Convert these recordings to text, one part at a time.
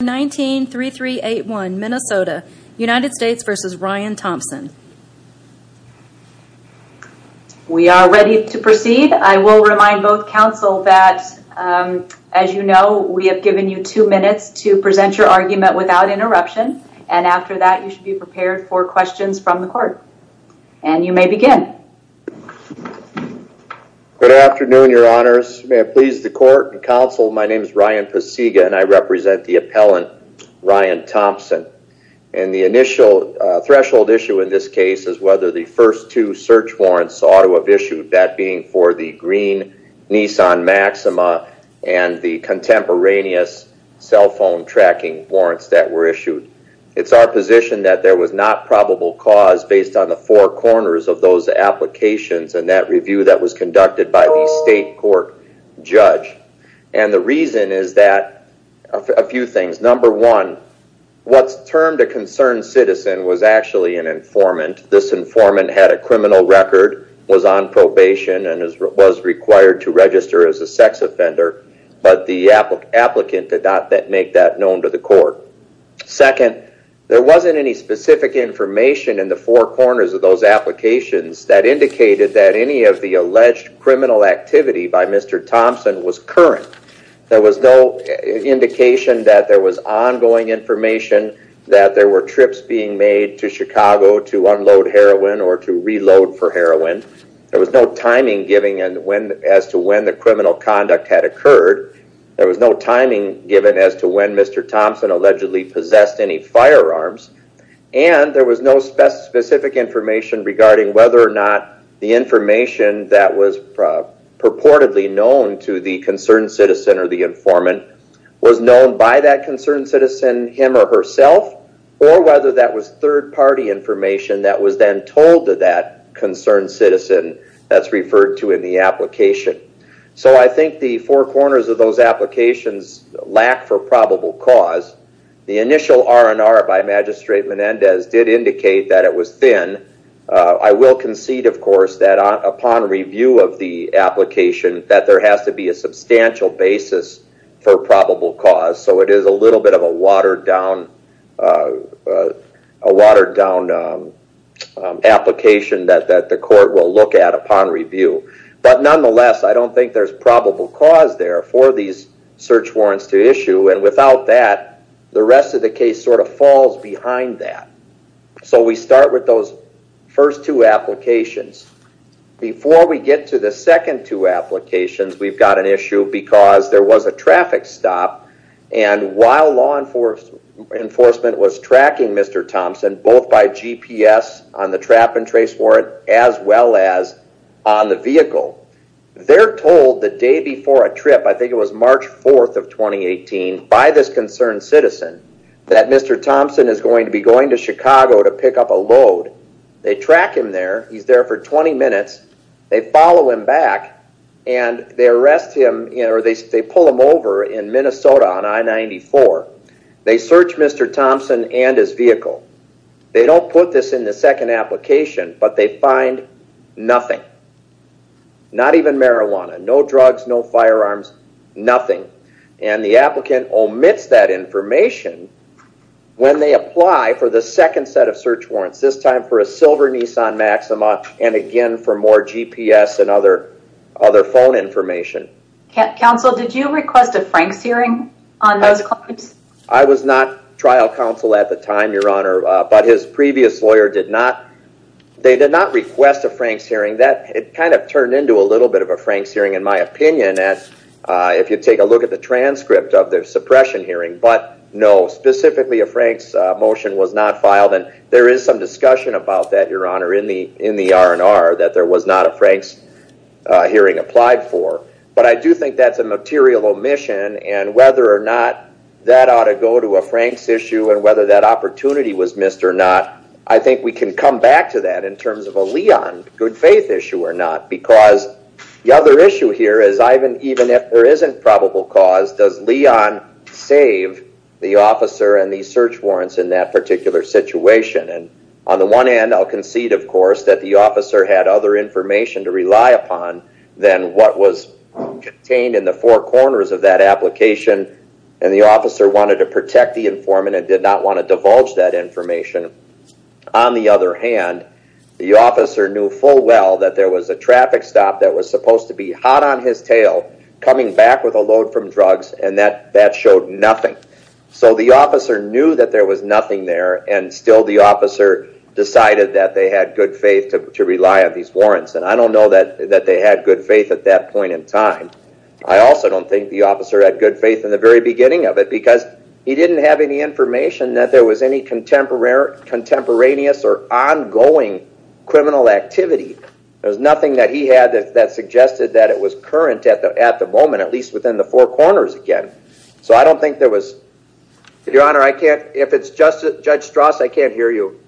We are ready to proceed. I will remind both counsel that, as you know, we have given you two minutes to present your argument without interruption. And after that, you should be prepared for questions from the court. And you may begin. Good afternoon, your honors. May it please the court and counsel, my name is Ryan Pasiga and I represent the appellant, Ryan Thompson. And the initial threshold issue in this case is whether the first two search warrants ought to have issued, that being for the green Nissan Maxima and the contemporaneous cell phone tracking warrants that were issued. It's our position that there was not probable cause based on the four corners of those applications and that review that was conducted by the state court judge. And the reason is that a few things. Number one, what's termed a concerned citizen was actually an informant. This informant had a criminal record, was on probation, and was required to register as a sex offender. But the applicant did not make that known to the court. Second, there wasn't any specific information in the four corners of those applications that indicated that any of the alleged criminal activity by Mr. Thompson was current. There was no indication that there was ongoing information that there were trips being made to Chicago to unload heroin or to reload for heroin. There was no timing given as to when the criminal conduct had occurred. There was no timing given as to when Mr. Thompson allegedly possessed any firearms. And there was no specific information regarding whether or not the information that was purportedly known to the concerned citizen or the informant was known by that concerned citizen, him or herself, or whether that was third party information that was then told to that concerned citizen that's referred to in the application. So I think the four corners of those applications lack for probable cause. The initial R&R by Magistrate Menendez did indicate that it was thin. I will concede, of course, that upon review of the application that there has to be a substantial basis for probable cause. So it is a little bit of a watered down application that the court will look at upon review. But nonetheless, I don't think there's probable cause there for these search warrants to issue. And without that, the rest of the case sort of falls behind that. So we start with those first two applications. Before we get to the second two applications, we've got an issue because there was a traffic stop. And while law enforcement was tracking Mr. Thompson, both by GPS on the trap and trace warrant, as well as on the vehicle, they're told the day before a trip, I think it was March 4th of 2018, by this concerned citizen, that Mr. Thompson is going to be going to Chicago to pick up a load. They track him there. He's there for 20 minutes. They follow him back. And they arrest him or they arrest the vehicle. They don't put this in the second application, but they find nothing. Not even marijuana. No drugs, no firearms, nothing. And the applicant omits that information when they apply for the second set of search warrants, this time for a silver Nissan Maxima and again for more GPS and other phone information. Counsel, did you request a Frank's hearing on those claims? I was not trial counsel at the time, Your Honor, but his previous lawyer did not. They did not request a Frank's hearing. It kind of turned into a little bit of a Frank's hearing in my opinion, if you take a look at the transcript of the suppression hearing. But no, specifically a Frank's motion was not filed. And there is some discussion about that, Your Honor, in the R&R that there was not a Frank's hearing applied for. But I do think that's a material omission and whether or not that ought to go to a Frank's issue and whether that opportunity was missed or not, I think we can come back to that in terms of a Leon good faith issue or not. Because the other issue here is, Ivan, even if there isn't probable cause, does Leon save the officer and the search warrants in that particular situation? And on the one hand, I'll concede, of course, that the officer had other information to rely upon than what was contained in the four corners of that application and the officer wanted to protect the informant and did not want to divulge that information. On the other hand, the officer knew full well that there was a traffic stop that was supposed to be hot on his tail coming back with a load from drugs and that showed nothing. So the officer knew that there was nothing there and still the officer decided that they had good faith to rely on these warrants and I don't know that they had good faith at that point in time. I also don't think the officer had good faith in the very beginning of it because he didn't have any information that there was any contemporaneous or ongoing criminal activity. There was nothing that he had that suggested that it was current at the moment, at least within the four corners again. So I don't think there was, Your Honor, if it's Judge Strauss, I can't hear you.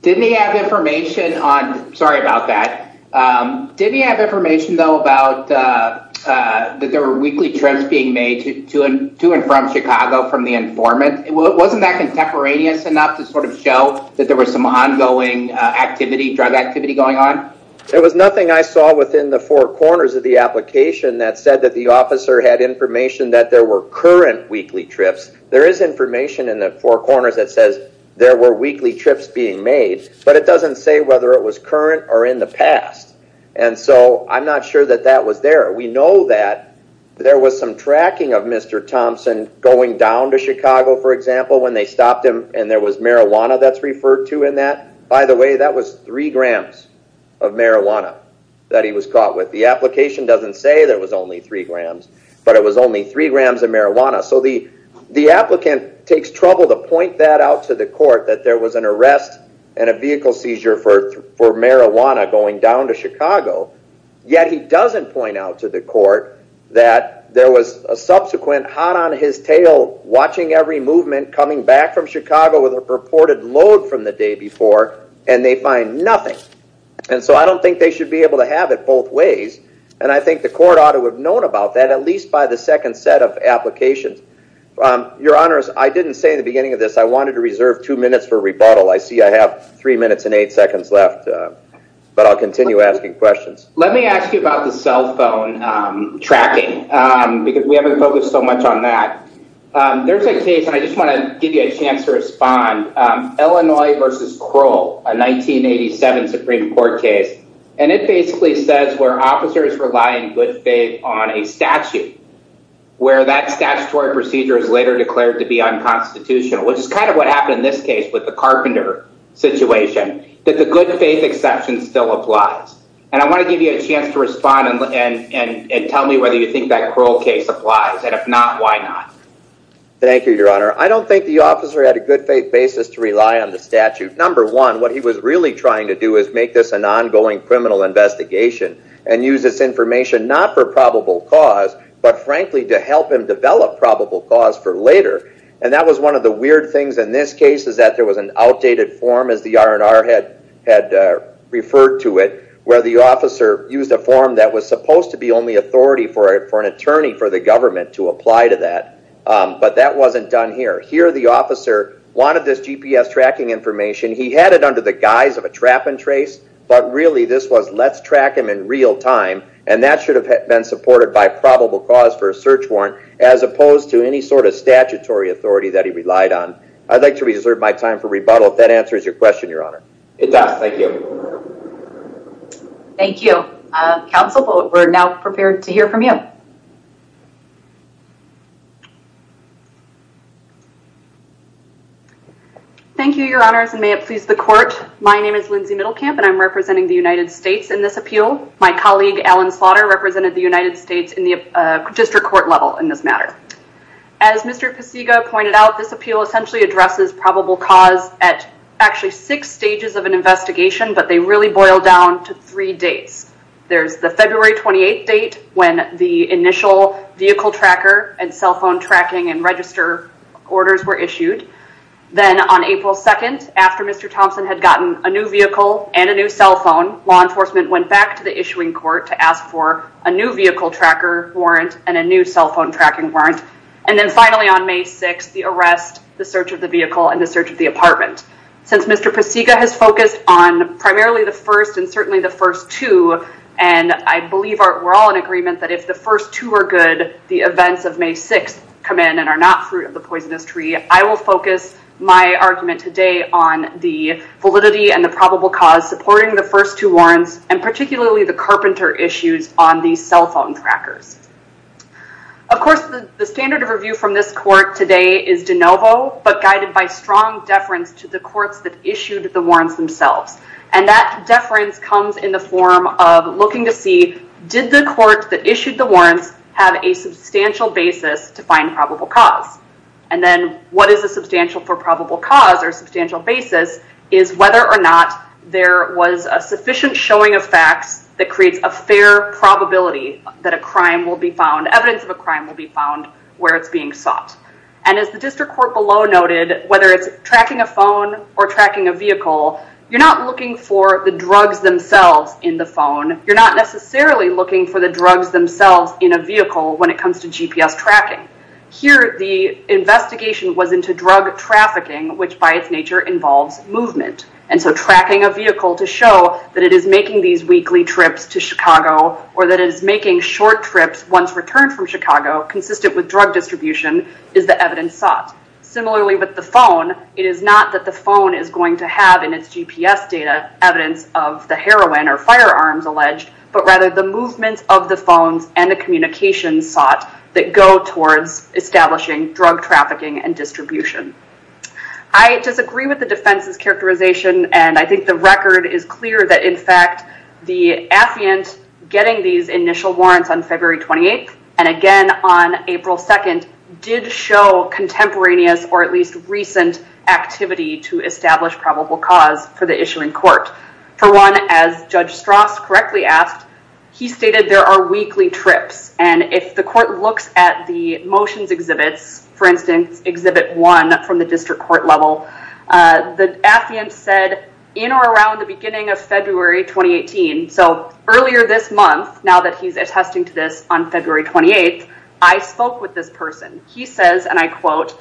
Didn't he have information on, sorry about that, didn't he have information though about that there were weekly trips being made to and from Chicago from the informant? Wasn't that contemporaneous enough to sort of show that there was some ongoing activity, drug activity going on? There was nothing I saw within the four corners of the application that said that the officer had information that there were information in the four corners that says there were weekly trips being made, but it doesn't say whether it was current or in the past. And so I'm not sure that that was there. We know that there was some tracking of Mr. Thompson going down to Chicago, for example, when they stopped him and there was marijuana that's referred to in that. By the way, that was three grams of marijuana that he was caught with. The application doesn't say there was only three grams of marijuana. So the applicant takes trouble to point that out to the court that there was an arrest and a vehicle seizure for marijuana going down to Chicago, yet he doesn't point out to the court that there was a subsequent hot on his tail watching every movement coming back from Chicago with a purported load from the day before and they find nothing. And so I don't think they should be able to have it both ways. And I think the court ought to have known about that at least by the second set of applications. Your Honor, I didn't say in the beginning of this, I wanted to reserve two minutes for rebuttal. I see I have three minutes and eight seconds left, but I'll continue asking questions. Let me ask you about the cell phone tracking because we haven't focused so much on that. There's a case, and I just want to give you a chance to respond, Illinois versus Kroll, a 1987 Supreme Court case. And it basically says where officers rely in good faith on a statute where that statutory procedure is later declared to be unconstitutional, which is kind of what happened in this case with the Carpenter situation, that the good faith exception still applies. And I want to give you a chance to respond and tell me whether you think that Kroll case applies. And if not, why not? Thank you, Your Honor. I don't think the officer had a good faith basis to rely on the statute. Number one, what he was really trying to do is make this an ongoing criminal investigation and use this information not for probable cause, but frankly to help him develop probable cause for later. And that was one of the weird things in this case is that there was an outdated form, as the R&R had referred to it, where the officer used a form that was supposed to be only authority for an attorney for the government to apply to that. But that wasn't done here. Here the officer wanted this GPS tracking information. He had it under the guise of a trap and trace, but really this was let's track him in real time. And that should have been supported by probable cause for a search warrant as opposed to any sort of statutory authority that he relied on. I'd like to reserve my time for rebuttal if that answers your question, Your Honor. It does. Thank you. Thank you. Counsel, we're now prepared to hear from you. Thank you, Your Honors, and may it please the court. My name is Lindsay Middlecamp, and I'm representing the United States in this appeal. My colleague, Alan Slaughter, represented the United States in the district court level in this matter. As Mr. Pasiga pointed out, this appeal essentially addresses probable cause at actually six stages of an investigation, but they really boil down to three dates. There's the February 28th date when the initial vehicle tracker and cell phone tracking and register orders were issued. Then on April 2nd, after Mr. Thompson had gotten a new vehicle and a new cell phone, law enforcement went back to the issuing court to ask for a new vehicle tracker warrant and a new cell phone tracking warrant. And then finally on May 6th, the arrest, the search of the vehicle, and the search of the apartment. Since Mr. Pasiga has focused on primarily the first and certainly the first two, and I believe we're all in agreement that if the first two are good, the events of May 6th come in and are not fruit of the poisonous tree, I will focus my argument today on the validity and the probable cause supporting the first two warrants, and particularly the carpenter issues on the cell phone trackers. Of course, the standard of review from this court today is de novo, but guided by strong deference to the courts that issued the warrants themselves. And that deference comes in the form of looking to see, did the court that issued the warrants have a substantial basis to find probable cause? And then what is the substantial for probable cause or substantial basis is whether or not there was a sufficient showing of facts that creates a fair probability that a crime will evidence of a crime will be found where it's being sought. And as the district court below noted, whether it's tracking a phone or tracking a vehicle, you're not looking for the drugs themselves in the phone. You're not necessarily looking for the drugs themselves in a vehicle when it comes to GPS tracking. Here, the investigation was into drug trafficking, which by its nature involves movement. And so tracking a vehicle to show that it is making these weekly trips to Chicago or that it is making short trips once returned from Chicago, consistent with drug distribution, is the evidence sought. Similarly with the phone, it is not that the phone is going to have in its GPS data evidence of the heroin or firearms alleged, but rather the movements of the phones and the communications sought that go towards establishing drug trafficking and distribution. I disagree with the defense's characterization. And I think the record is clear that, in fact, the affiant getting these initial warrants on February 28th and again on April 2nd did show contemporaneous or at least recent activity to establish probable cause for the issue in court. For one, as Judge Strauss correctly asked, he stated there are weekly trips. And if the court looks at the motions exhibits, for instance, exhibit one from the district court level, the affiant said in or around the beginning of February 2018, so earlier this month, now that he's attesting to this on February 28th, I spoke with this person. He says, and I quote,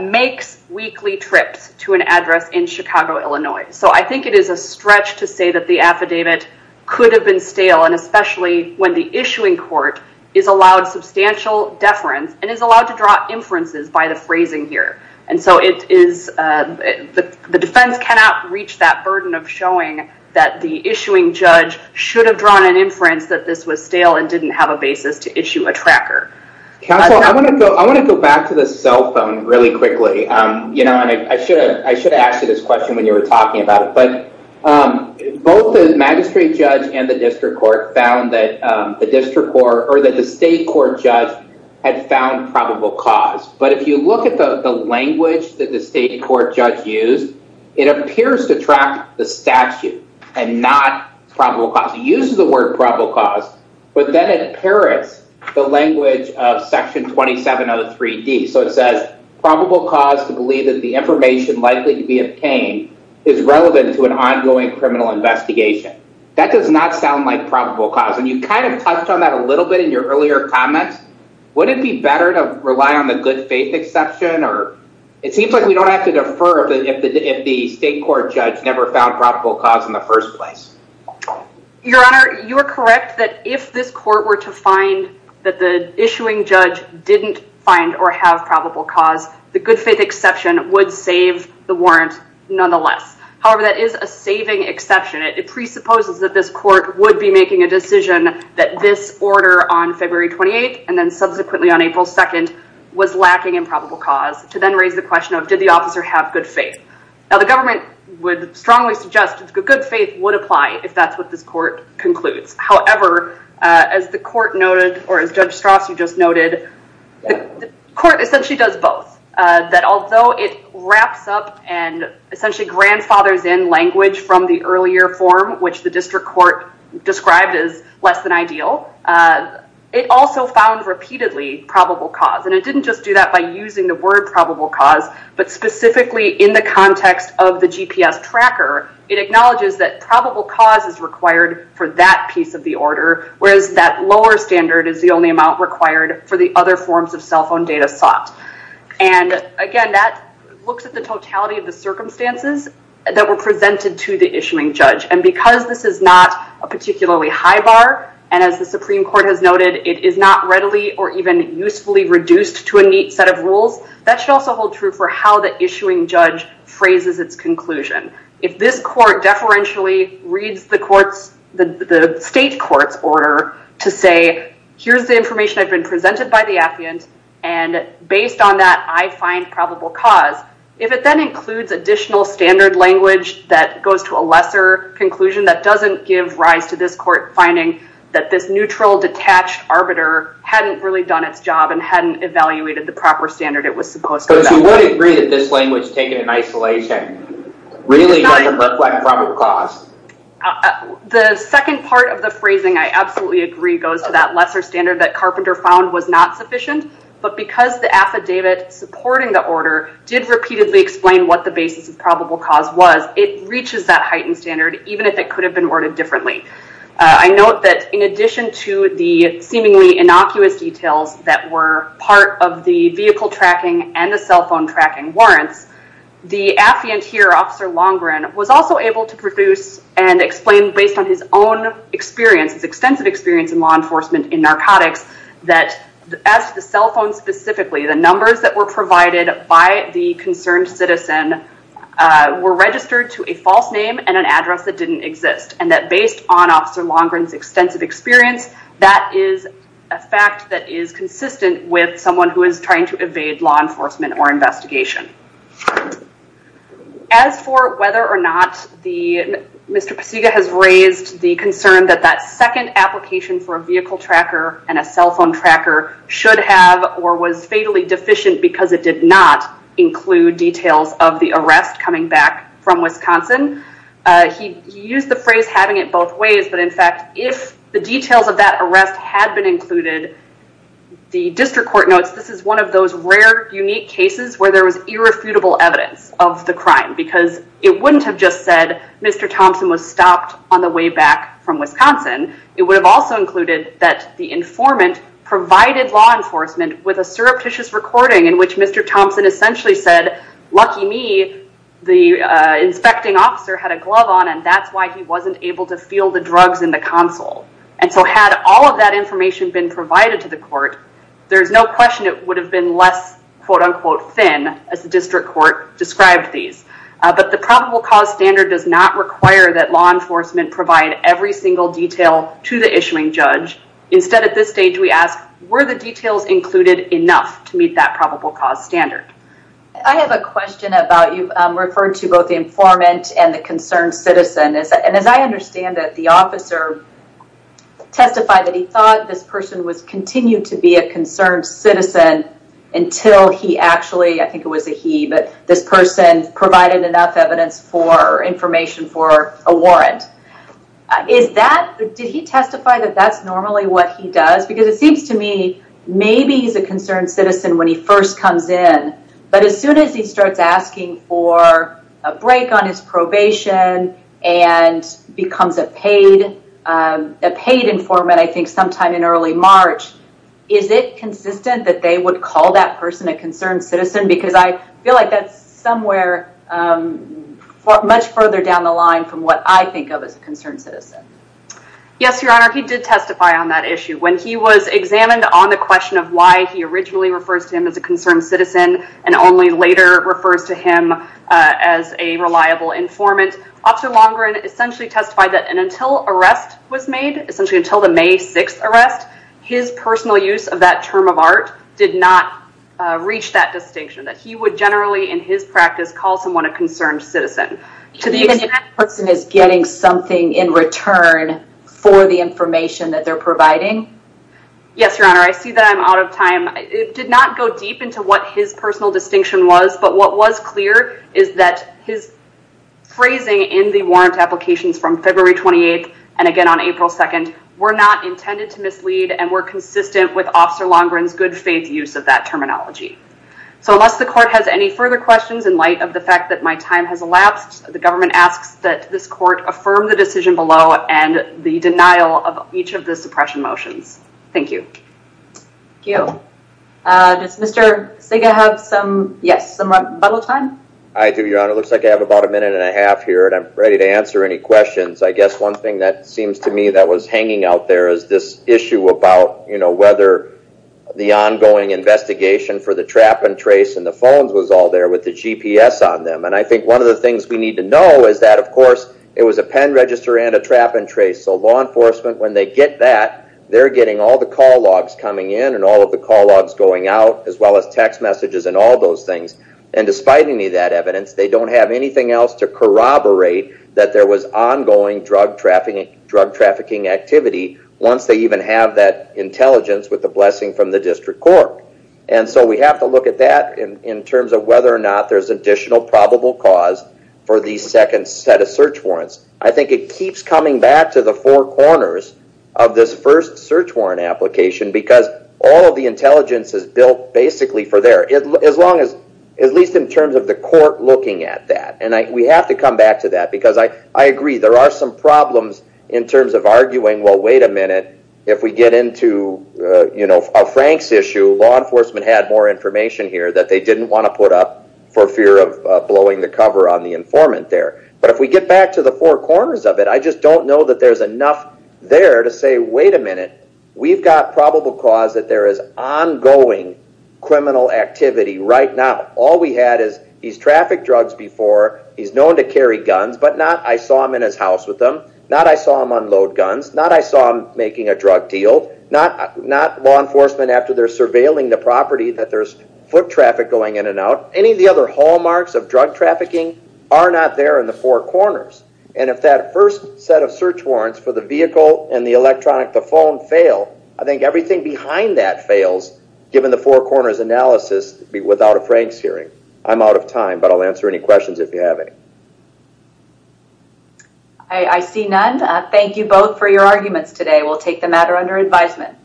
makes weekly trips to an address in Chicago, Illinois. So I think it is a stretch to say that the affidavit could have been stale and especially when the issuing court is allowed substantial deference and is allowed to draw inferences by the phrasing here. And so the defense cannot reach that burden of showing that the issuing judge should have drawn an inference that this was stale and didn't have a basis to issue a tracker. Counsel, I want to go back to the cell phone really quickly. I should have asked you this question when you were talking about it, but both the magistrate judge and the district court found the district court or that the state court judge had found probable cause. But if you look at the language that the state court judge used, it appears to track the statute and not probable cause. It uses the word probable cause, but then it parrots the language of section 2703D. So it says probable cause to believe that the information likely to be obtained is relevant to an ongoing criminal investigation. That does not sound like probable cause and you kind of touched on that a little bit in your earlier comments. Would it be better to rely on the good faith exception or it seems like we don't have to defer if the state court judge never found probable cause in the first place. Your Honor, you are correct that if this court were to find that the issuing judge didn't find or have probable cause, the good faith exception would save the warrant nonetheless. However, that is a saving exception. It presupposes that this court would be making a decision that this order on February 28th and then subsequently on April 2nd was lacking in probable cause to then raise the question of did the officer have good faith. Now the government would strongly suggest that good faith would apply if that's what this court concludes. However, as the court noted or as Judge Strasse just noted, the court essentially does both. That fathers in language from the earlier form, which the district court described as less than ideal. It also found repeatedly probable cause and it didn't just do that by using the word probable cause, but specifically in the context of the GPS tracker, it acknowledges that probable cause is required for that piece of the order, whereas that lower standard is the only amount required for the other forms of cell phone data sought. Again, that looks at the totality of the circumstances that were presented to the issuing judge. And because this is not a particularly high bar, and as the Supreme Court has noted, it is not readily or even usefully reduced to a neat set of rules, that should also hold true for how the issuing judge phrases its conclusion. If this court deferentially reads the state court's order to say, here's the information I've been presented by the appeant and based on that I find probable cause, if it then includes additional standard language that goes to a lesser conclusion, that doesn't give rise to this court finding that this neutral detached arbiter hadn't really done its job and hadn't evaluated the proper standard it was supposed to. So you would agree that this language taken in isolation really doesn't reflect probable cause? The second part of the phrasing I absolutely agree goes to that lesser standard that Carpenter found was not sufficient, but because the affidavit supporting the order did repeatedly explain what the basis of probable cause was, it reaches that heightened standard even if it could have been ordered differently. I note that in addition to the seemingly innocuous details that were part of the vehicle tracking and the cell phone tracking warrants, the appeant here, Officer Longren, was also able to produce and explain based on his own experience, his extensive experience in law enforcement in narcotics, that as to the cell phone specifically, the numbers that were provided by the concerned citizen were registered to a false name and an address that didn't exist and that based on Officer Longren's extensive experience, that is a fact that is consistent with someone who is trying to evade law enforcement or investigation. As for whether or not Mr. Pasiga has raised the concern that that second application for was fatally deficient because it did not include details of the arrest coming back from Wisconsin, he used the phrase having it both ways, but in fact, if the details of that arrest had been included, the district court notes this is one of those rare, unique cases where there was irrefutable evidence of the crime because it wouldn't have just said Mr. Thompson was stopped on the way back from Wisconsin. It would have also included that the informant provided law enforcement with a surreptitious recording in which Mr. Thompson essentially said, lucky me, the inspecting officer had a glove on and that's why he wasn't able to feel the drugs in the console. And so had all of that information been provided to the court, there's no question it would have been less, quote unquote, thin as the district court described these. But the probable cause standard does not require that law enforcement provide every single detail to the issuing judge. Instead, at this stage, we ask, were the details included enough to meet that probable cause standard? I have a question about you've referred to both the informant and the concerned citizen. And as I understand it, the officer testified that he thought this person was continued to be a concerned citizen until he actually, I think it was a he, but this person provided enough information for a warrant. Did he testify that that's normally what he does? Because it seems to me maybe he's a concerned citizen when he first comes in. But as soon as he starts asking for a break on his probation and becomes a paid informant, I think sometime in early March, is it consistent that they would call that person a concerned citizen? Because I think it's much further down the line from what I think of as a concerned citizen. Yes, Your Honor, he did testify on that issue. When he was examined on the question of why he originally refers to him as a concerned citizen and only later refers to him as a reliable informant, Officer Longren essentially testified that until arrest was made, essentially until the May 6th arrest, his personal use of that term of art did not reach that distinction. That he would generally in his practice call someone a concerned citizen. To the extent that person is getting something in return for the information that they're providing? Yes, Your Honor. I see that I'm out of time. It did not go deep into what his personal distinction was, but what was clear is that his phrasing in the warrant applications from February 28th and again on April 2nd were not intended to mislead and were consistent with Officer Longren's good faith use of that term of art. I have no further questions in light of the fact that my time has elapsed. The government asks that this court affirm the decision below and the denial of each of the suppression motions. Thank you. Thank you. Does Mr. Sega have some, yes, some rebuttal time? I do, Your Honor. Looks like I have about a minute and a half here and I'm ready to answer any questions. I guess one thing that seems to me that was hanging out there is this issue about, you know, whether the ongoing investigation for the GPS on them. And I think one of the things we need to know is that, of course, it was a pen register and a trap and trace. So law enforcement, when they get that, they're getting all the call logs coming in and all of the call logs going out as well as text messages and all those things. And despite any of that evidence, they don't have anything else to corroborate that there was ongoing drug trafficking activity once they even have that intelligence with the blessing from the district court. And so we have to look at that in terms of whether or not there's additional probable cause for the second set of search warrants. I think it keeps coming back to the four corners of this first search warrant application because all of the intelligence is built basically for there, at least in terms of the court looking at that. And we have to come back to that because I agree there are some problems in terms of arguing, well, wait a minute, if we get into a Frank's issue, law enforcement had more information here that they didn't want to put up for fear of blowing the cover on the informant there. But if we get back to the four corners of it, I just don't know that there's enough there to say, wait a minute, we've got probable cause that there is ongoing criminal activity right now. All we had is he's trafficked drugs before, he's known to carry guns, but not I saw him in his house with them, not I saw him load guns, not I saw him making a drug deal, not law enforcement after they're surveilling the property that there's foot traffic going in and out. Any of the other hallmarks of drug trafficking are not there in the four corners. And if that first set of search warrants for the vehicle and the electronic, the phone fail, I think everything behind that fails given the four corners analysis without a Frank's hearing. I'm out of time, but I'll answer any questions if you have any. I see none. Thank you both for your arguments today. We'll take the matter under advisement.